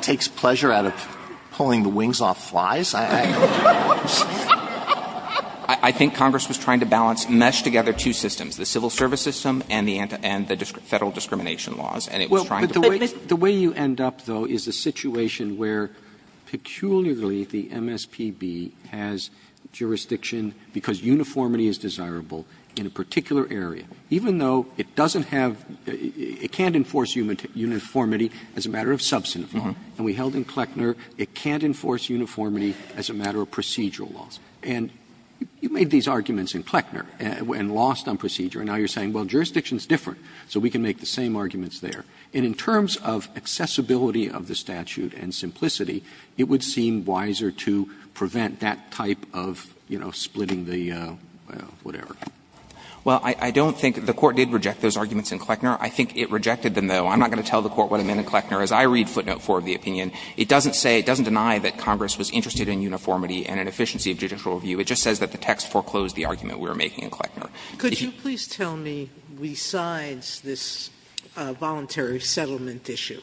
takes pleasure out of pulling the wings off flies? I think Congress was trying to balance, mesh together two systems, the civil service system and the Federal discrimination laws, and it was trying to play this. The way you end up, though, is a situation where, peculiarly, the MSPB has jurisdiction because uniformity is desirable in a particular area, even though it doesn't have uniformity, it can't enforce uniformity as a matter of substantive law. And we held in Kleckner it can't enforce uniformity as a matter of procedural laws. And you made these arguments in Kleckner and lost on procedure, and now you're saying, well, jurisdiction is different, so we can make the same arguments there. And in terms of accessibility of the statute and simplicity, it would seem wiser Well, I don't think the Court did reject those arguments in Kleckner. I think it rejected them, though. I'm not going to tell the Court what it meant in Kleckner. As I read footnote 4 of the opinion, it doesn't say, it doesn't deny that Congress was interested in uniformity and an efficiency of judicial review. It just says that the text foreclosed the argument we were making in Kleckner. If you could tell me, besides this voluntary settlement issue,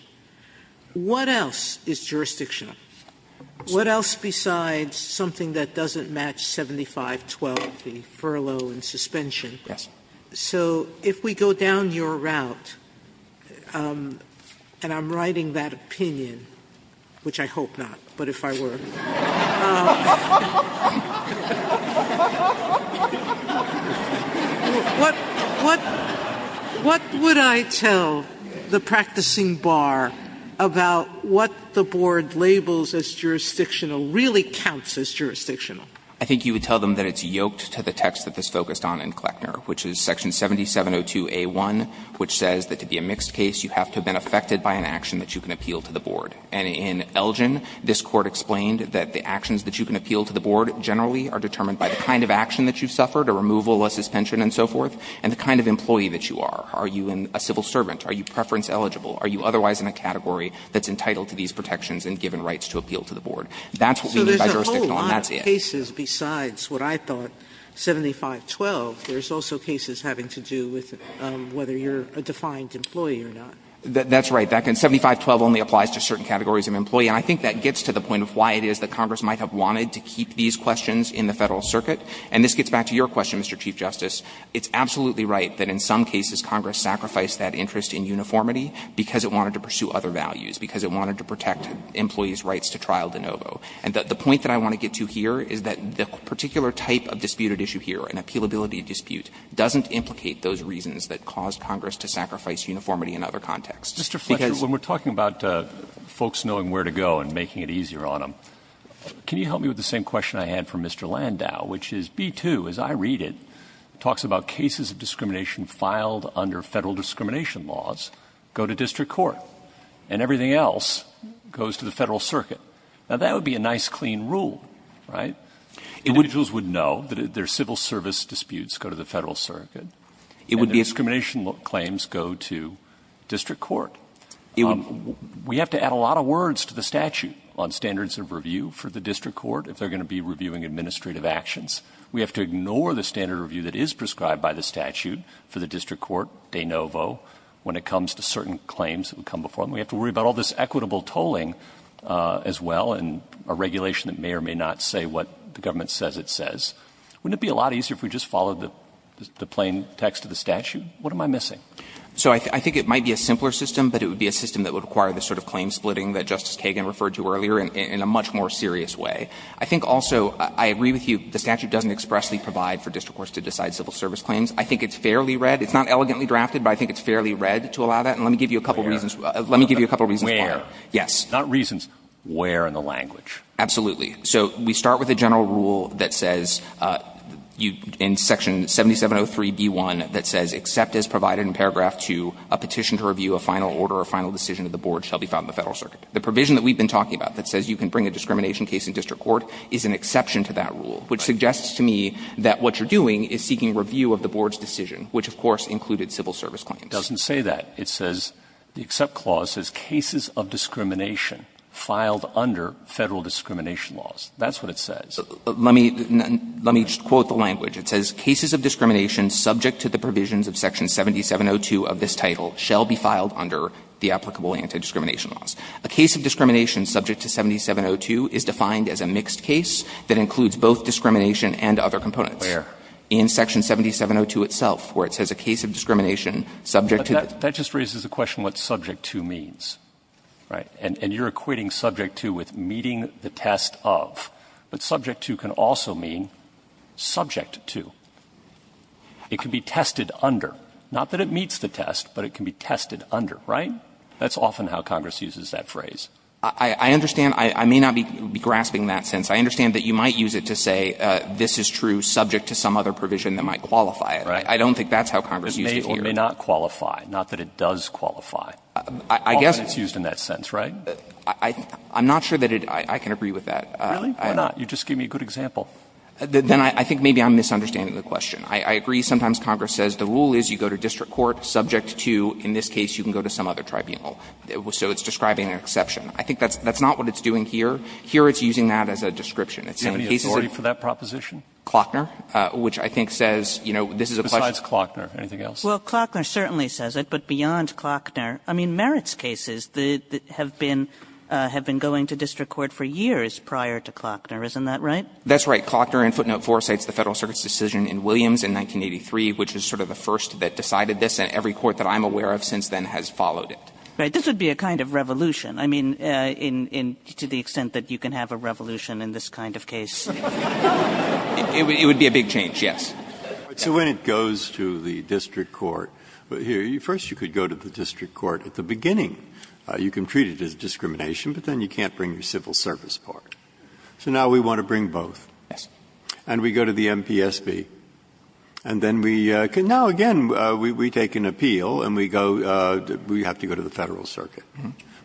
what else is jurisdictional? What else besides something that doesn't match 75-12, the furlough and suspension? So if we go down your route, and I'm writing that opinion, which I hope not, but if I were. What would I tell the practicing bar about what the board labeled as a jurisdictional really counts as jurisdictional? I think you would tell them that it's yoked to the text that this focused on in Kleckner, which is section 7702a1, which says that to be a mixed case, you have to have been affected by an action that you can appeal to the board. And in Elgin, this Court explained that the actions that you can appeal to the board generally are determined by the kind of action that you've suffered, a removal, a suspension, and so forth, and the kind of employee that you are. Are you a civil servant? Are you preference eligible? Are you otherwise in a category that's entitled to these protections and given rights to appeal to the board? That's what we mean by jurisdictional, and that's it. Sotomayor, and I think that gets to the point of why it is that Congress might have wanted to keep these questions in the Federal Circuit. And this gets back to your question, Mr. Chief Justice. It's absolutely right that in some cases Congress sacrificed that interest in uniformity because it wanted to pursue other values, because it wanted to protect employees' rights to trial de novo. And the point that I want to get to here is that the particular type of disputed issue here, an appealability dispute, doesn't implicate those reasons that caused Congress to sacrifice uniformity in other contexts. it's a case that's in the Federal Circuit. Roberts, when we're talking about folks knowing where to go and making it easier on them, can you help me with the same question I had for Mr. Landau, which is B-2, as I read it, talks about cases of discrimination filed under Federal discrimination laws go to district court, and everything else goes to the Federal Circuit. Now, that would be a nice, clean rule, right? Individuals would know that their civil service disputes go to the Federal Circuit. And discrimination claims go to district court. We have to add a lot of words to the statute on standards of review for the district court if they're going to be reviewing administrative actions. We have to ignore the standard review that is prescribed by the statute for the district court, de novo, when it comes to certain claims that would come before them. We have to worry about all this equitable tolling as well, and a regulation that may or may not say what the government says it says. Wouldn't it be a lot easier if we just followed the plain text of the statute? What am I missing? So I think it might be a simpler system, but it would be a system that would require the sort of claim splitting that Justice Kagan referred to earlier in a much more serious way. I think also, I agree with you, the statute doesn't expressly provide for district courts to decide civil service claims. I think it's fairly read. It's not elegantly drafted, but I think it's fairly read to allow that. And let me give you a couple of reasons. Let me give you a couple of reasons why. Yes. Not reasons. Where in the language. Absolutely. So we start with a general rule that says, in Section 7703b1, that says, except as provided in paragraph 2, a petition to review a final order or final decision of the board shall be filed in the Federal Circuit. The provision that we've been talking about that says you can bring a discrimination case in district court is an exception to that rule, which suggests to me that what you're doing is seeking review of the board's decision, which, of course, included civil service claims. It doesn't say that. It says, the Except Clause says cases of discrimination filed under Federal discrimination laws. That's what it says. Let me just quote the language. It says, Cases of discrimination subject to the provisions of Section 7702 of this title shall be filed under the applicable anti-discrimination laws. A case of discrimination subject to 7702 is defined as a mixed case that includes both discrimination and other components. In Section 7702 itself, where it says a case of discrimination subject to the. Roberts, that just raises a question what subject to means, right? And you're equating subject to with meeting the test of. But subject to can also mean subject to. It can be tested under. Not that it meets the test, but it can be tested under, right? That's often how Congress uses that phrase. I understand. I may not be grasping that sense. I understand that you might use it to say this is true subject to some other provision that might qualify it. I don't think that's how Congress used it here. It may or may not qualify. Not that it does qualify. I guess. Often it's used in that sense, right? I'm not sure that it – I can agree with that. Really? Why not? You just gave me a good example. Then I think maybe I'm misunderstanding the question. I agree sometimes Congress says the rule is you go to district court subject to, in this case, you can go to some other tribunal. So it's describing an exception. I think that's not what it's doing here. Here it's using that as a description. It's saying cases of – Do you have any authority for that proposition? Klockner, which I think says, you know, this is a question – Besides Klockner. Anything else? Well, Klockner certainly says it, but beyond Klockner. I mean, merits cases have been going to district court for years prior to Klockner. Isn't that right? That's right. Klockner in footnote 4 cites the Federal Circuit's decision in Williams in 1983, which is sort of the first that decided this. And every court that I'm aware of since then has followed it. Right. This would be a kind of revolution. I mean, in – to the extent that you can have a revolution in this kind of case. It would be a big change, yes. So when it goes to the district court, here, first you could go to the district court at the beginning. You can treat it as discrimination, but then you can't bring your civil service part. So now we want to bring both. Yes. And we go to the MPSB. And then we can – now, again, we take an appeal and we go – we have to go to the Federal Circuit.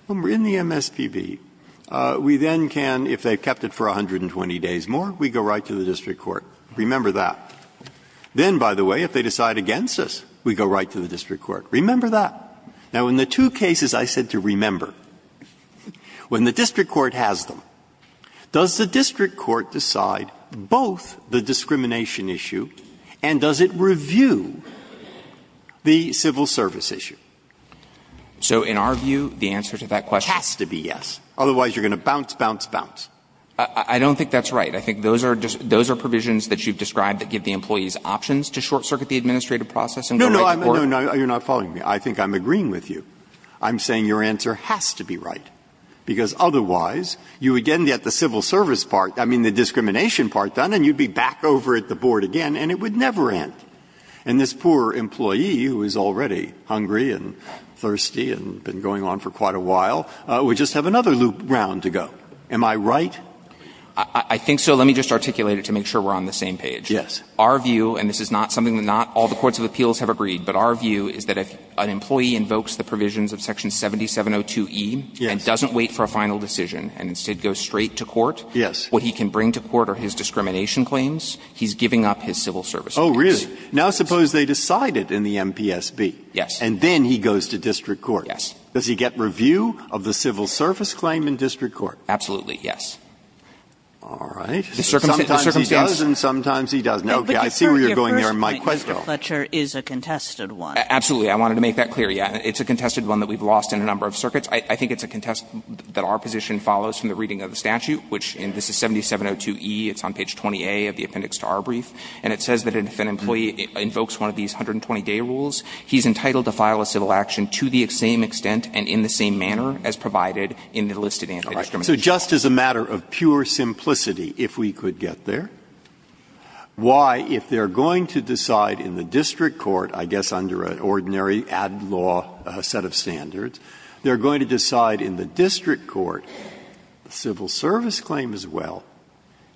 In the MSPB, we then can, if they've kept it for 120 days more, we go right to the district court. Remember that. Then, by the way, if they decide against us, we go right to the district court. Remember that. Now, in the two cases I said to remember, when the district court has them, does the district court decide both the discrimination issue and does it review the civil service issue? So in our view, the answer to that question – It has to be yes. Otherwise, you're going to bounce, bounce, bounce. I don't think that's right. I think those are provisions that you've described that give the employees options to short-circuit the administrative process and go right to court. No, no, you're not following me. I think I'm agreeing with you. I'm saying your answer has to be right, because otherwise, you would get the civil service part – I mean, the discrimination part done, and you'd be back over at the board again, and it would never end. And this poor employee, who is already hungry and thirsty and been going on for quite a while, would just have another loop round to go. Am I right? I think so. Let me just articulate it to make sure we're on the same page. Yes. Our view – and this is not something that not all the courts of appeals have agreed, but our view is that if an employee invokes the provisions of Section 7702e and doesn't wait for a final decision and instead goes straight to court, what he can bring to court are his discrimination claims. He's giving up his civil service. Oh, really? Now, suppose they decide it in the MPSB. Yes. And then he goes to district court. Yes. Does he get review of the civil service claim in district court? Absolutely, yes. All right. The circumstances. Sometimes he does, and sometimes he doesn't. Okay. I see where you're going there in my question. But your first point, Mr. Fletcher, is a contested one. Absolutely. I wanted to make that clear. Yes. It's a contested one that we've lost in a number of circuits. I think it's a contest that our position follows from the reading of the statute, which – and this is 7702e. It's on page 20a of the appendix to our brief. And it says that if an employee invokes one of these 120-day rules, he's entitled to file a civil action to the same extent and in the same manner as provided in the listed anti-discrimination. All right. So just as a matter of pure simplicity, if we could get there, why, if they're going to decide in the district court, I guess under an ordinary ad law set of standards, they're going to decide in the district court, civil service claim as well,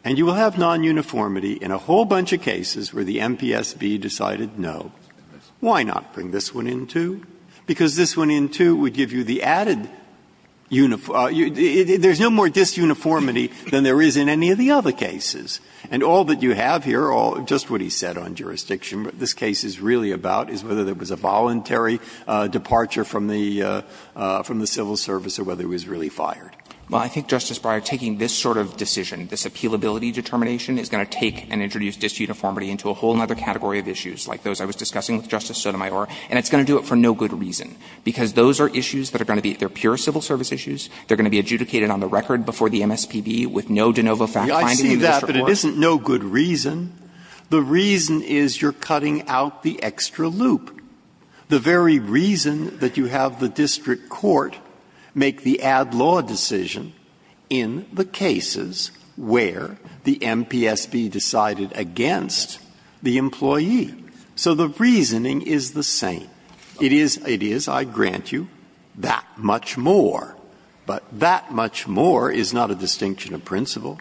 and you will have non-uniformity in a whole bunch of cases where the MPSB decided no. Why not bring this one in, too? Because this one in, too, would give you the added – there's no more disuniformity than there is in any of the other cases. And all that you have here, just what he said on jurisdiction, what this case is really about is whether there was a voluntary departure from the civil service or whether it was really fired. Well, I think, Justice Breyer, taking this sort of decision, this appealability determination is going to take and introduce disuniformity into a whole other category of issues like those I was discussing with Justice Sotomayor, and it's going to do it for no good reason, because those are issues that are going to be – they're pure civil service issues. They're going to be adjudicated on the record before the MSPB with no de novo fact finding in the district court. I see that, but it isn't no good reason. The reason is you're cutting out the extra loop. The very reason that you have the district court make the add-law decision in the cases where the MPSB decided against the employee. So the reasoning is the same. It is, I grant you, that much more, but that much more is not a distinction of principle.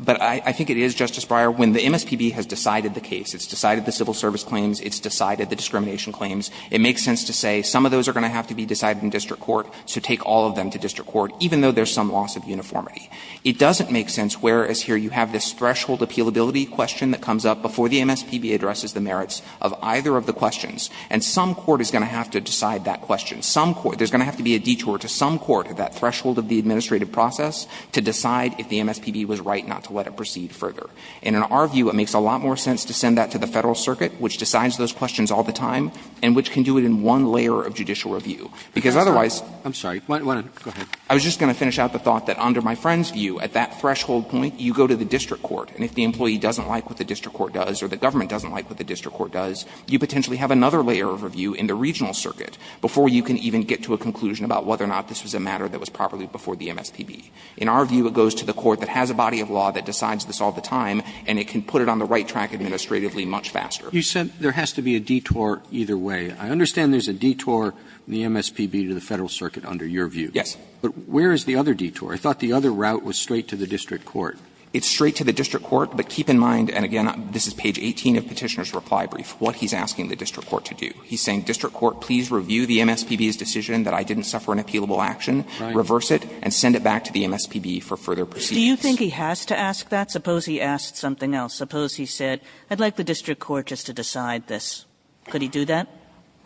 But I think it is, Justice Breyer, when the MSPB has decided the case, it's decided the civil service claims, it's decided the discrimination claims, it makes sense to say some of those are going to have to be decided in district court, so take all of them to district court, even though there's some loss of uniformity. It doesn't make sense, whereas here you have this threshold appealability question that comes up before the MSPB addresses the merits of either of the questions, and some court is going to have to decide that question. Some court – there's going to have to be a detour to some court at that threshold of the administrative process to decide if the MSPB was right not to let it proceed further. And in our view, it makes a lot more sense to send that to the Federal Circuit, which decides those questions all the time, and which can do it in one layer of judicial review. Because otherwise – Roberts. I'm sorry. Go ahead. I was just going to finish out the thought that under my friend's view, at that threshold point, you go to the district court, and if the employee doesn't like what the district court does or the government doesn't like what the district court does, you potentially have another layer of review in the regional circuit before you can even get to a conclusion about whether or not this was a matter that was properly before the MSPB. In our view, it goes to the court that has a body of law that decides this all the time, and it can put it on the right track administratively much faster. You said there has to be a detour either way. I understand there's a detour in the MSPB to the Federal Circuit under your view. Yes. But where is the other detour? I thought the other route was straight to the district court. It's straight to the district court, but keep in mind, and again, this is page 18 of Petitioner's reply brief, what he's asking the district court to do. He's saying, district court, please review the MSPB's decision that I didn't suffer an appealable action, reverse it, and send it back to the MSPB for further proceedings. Do you think he has to ask that? Suppose he asked something else. Suppose he said, I'd like the district court just to decide this. Could he do that?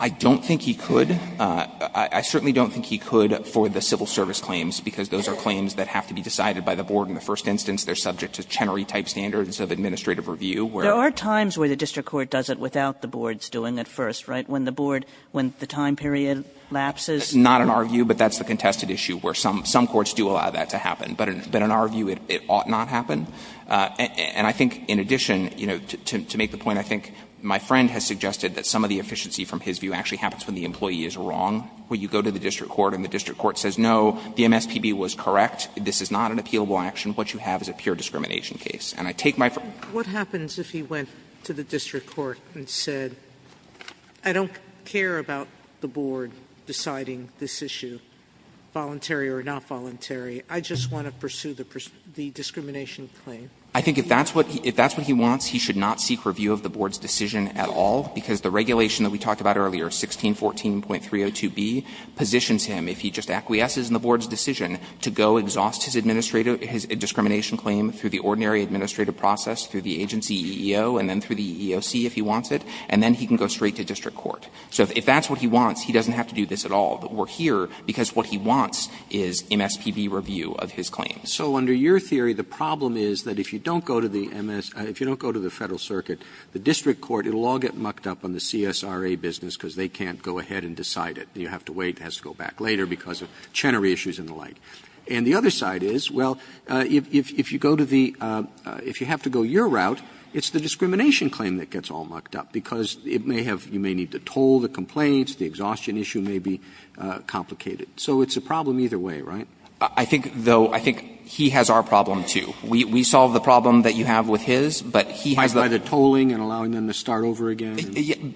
I don't think he could. I certainly don't think he could for the civil service claims, because those are claims that have to be decided by the board in the first instance. They're subject to Chenery-type standards of administrative review, where they're There are times where the district court does it without the board's doing it first, right, when the board, when the time period lapses? That's not in our view, but that's the contested issue, where some courts do allow that to happen. But in our view, it ought not happen. And I think, in addition, you know, to make the point, I think my friend has suggested that some of the efficiency from his view actually happens when the employee is wrong. When you go to the district court and the district court says, no, the MSPB was correct, this is not an appealable action, what you have is a pure discrimination case. And I take my friend's point. Sotomayor, what happens if he went to the district court and said, I don't care about the board deciding this issue, voluntary or not voluntary? I just want to pursue the discrimination claim. I think if that's what he wants, he should not seek review of the board's decision at all, because the regulation that we talked about earlier, 1614.302b, positions him, if he just acquiesces in the board's decision, to go exhaust his discrimination claim through the ordinary administrative process, through the agency EEO, and then through the EEOC if he wants it, and then he can go straight to district court. So if that's what he wants, he doesn't have to do this at all. But we're here because what he wants is MSPB review of his claim. Roberts. So under your theory, the problem is that if you don't go to the MS, if you don't go to the Federal Circuit, the district court, it will all get mucked up on the CSRA business because they can't go ahead and decide it. You have to wait, it has to go back later because of Chenery issues and the like. And the other side is, well, if you go to the, if you have to go your route, it's the discrimination claim that gets all mucked up, because it may have, you may need to toll the complaints, the exhaustion issue may be complicated. So it's a problem either way, right? I think, though, I think he has our problem, too. We solve the problem that you have with his, but he has the By the tolling and allowing them to start over again?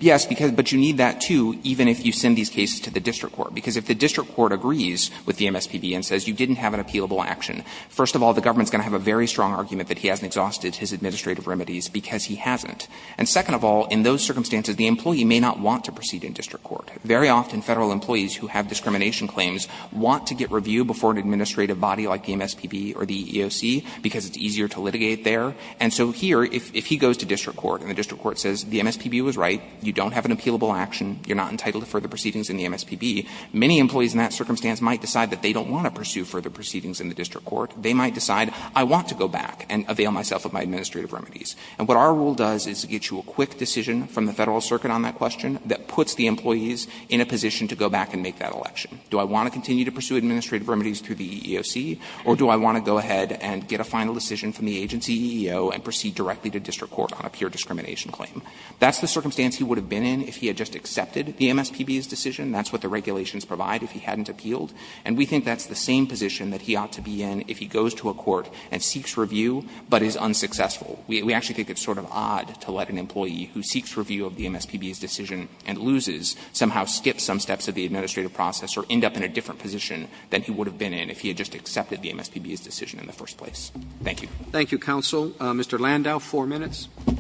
Yes, because, but you need that, too, even if you send these cases to the district court, because if the district court agrees with the MSPB and says you didn't have an appealable action, first of all, the government's going to have a very strong argument that he hasn't exhausted his administrative remedies because he hasn't. And second of all, in those circumstances, the employee may not want to proceed in district court. Very often, Federal employees who have discrimination claims want to get reviewed before an administrative body like the MSPB or the EEOC, because it's easier to litigate there. And so here, if he goes to district court and the district court says the MSPB was right, you don't have an appealable action, you're not entitled to further proceedings in the MSPB, many employees in that circumstance might decide that they don't want to pursue further proceedings in the district court. They might decide, I want to go back and avail myself of my administrative remedies. And what our rule does is get you a quick decision from the Federal Circuit on that question that puts the employees in a position to go back and make that election. Do I want to continue to pursue administrative remedies through the EEOC, or do I want to go ahead and get a final decision from the agency EEO and proceed directly to district court on a pure discrimination claim? That's the circumstance he would have been in if he had just accepted the MSPB's decision. That's what the regulations provide if he hadn't appealed. And we think that's the same position that he ought to be in if he goes to a court and seeks review, but is unsuccessful. We actually think it's sort of odd to let an employee who seeks review of the MSPB's decision and loses somehow skip some steps of the administrative process or end up in a different position than he would have been in if he had just accepted the MSPB's decision in the first place. Thank you. Roberts. Thank you, counsel. Mr. Landau, four minutes. Landau,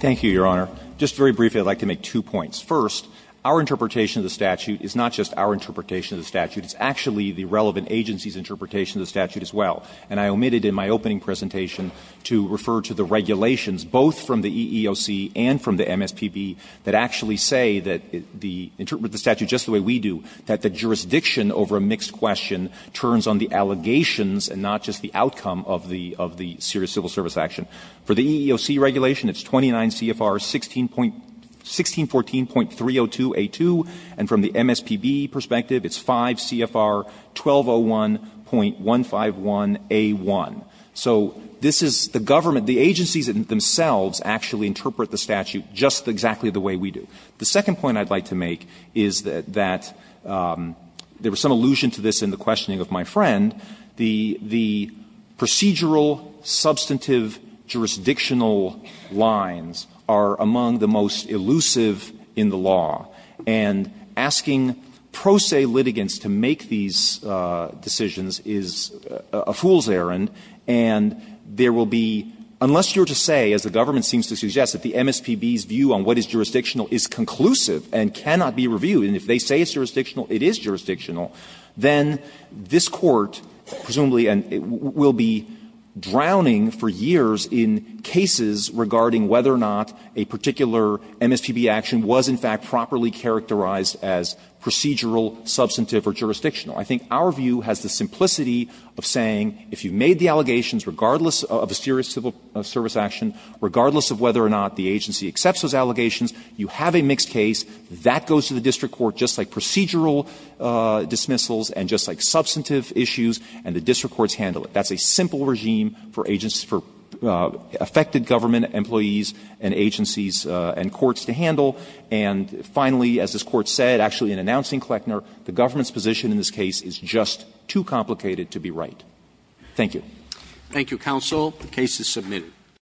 thank you, Your Honor. Just very briefly, I would like to make two points. First, our interpretation of the statute is not just our interpretation of the statute. It's actually the relevant agency's interpretation of the statute as well. And I omitted in my opening presentation to refer to the regulations, both from the EEOC and from the MSPB, that actually say that the statute, just the way we do, that the jurisdiction over a mixed question turns on the allegations and not just the outcome of the serious civil service action. For the EEOC regulation, it's 29 CFR 1614.302A2. And from the MSPB perspective, it's 5 CFR 1201.151A1. So this is the government, the agencies themselves actually interpret the statute just exactly the way we do. The second point I'd like to make is that there was some allusion to this in the questioning of my friend, the procedural, substantive, jurisdictional lines are among the most elusive in the law. And asking pro se litigants to make these decisions is a fool's errand. And there will be, unless you're to say, as the government seems to suggest, that the MSPB's view on what is jurisdictional is conclusive and cannot be reviewed, and if they say it's jurisdictional, it is jurisdictional, then this Court, presumably and will be drowning for years in cases regarding whether or not a particular agency is properly characterized as procedural, substantive, or jurisdictional. I think our view has the simplicity of saying if you've made the allegations regardless of a serious civil service action, regardless of whether or not the agency accepts those allegations, you have a mixed case, that goes to the district court just like procedural dismissals and just like substantive issues, and the district courts handle it. That's a simple regime for agencies, for affected government employees and agencies and courts to handle. And finally, as this Court said, actually in announcing Kleckner, the government's position in this case is just too complicated to be right. Thank you. Roberts.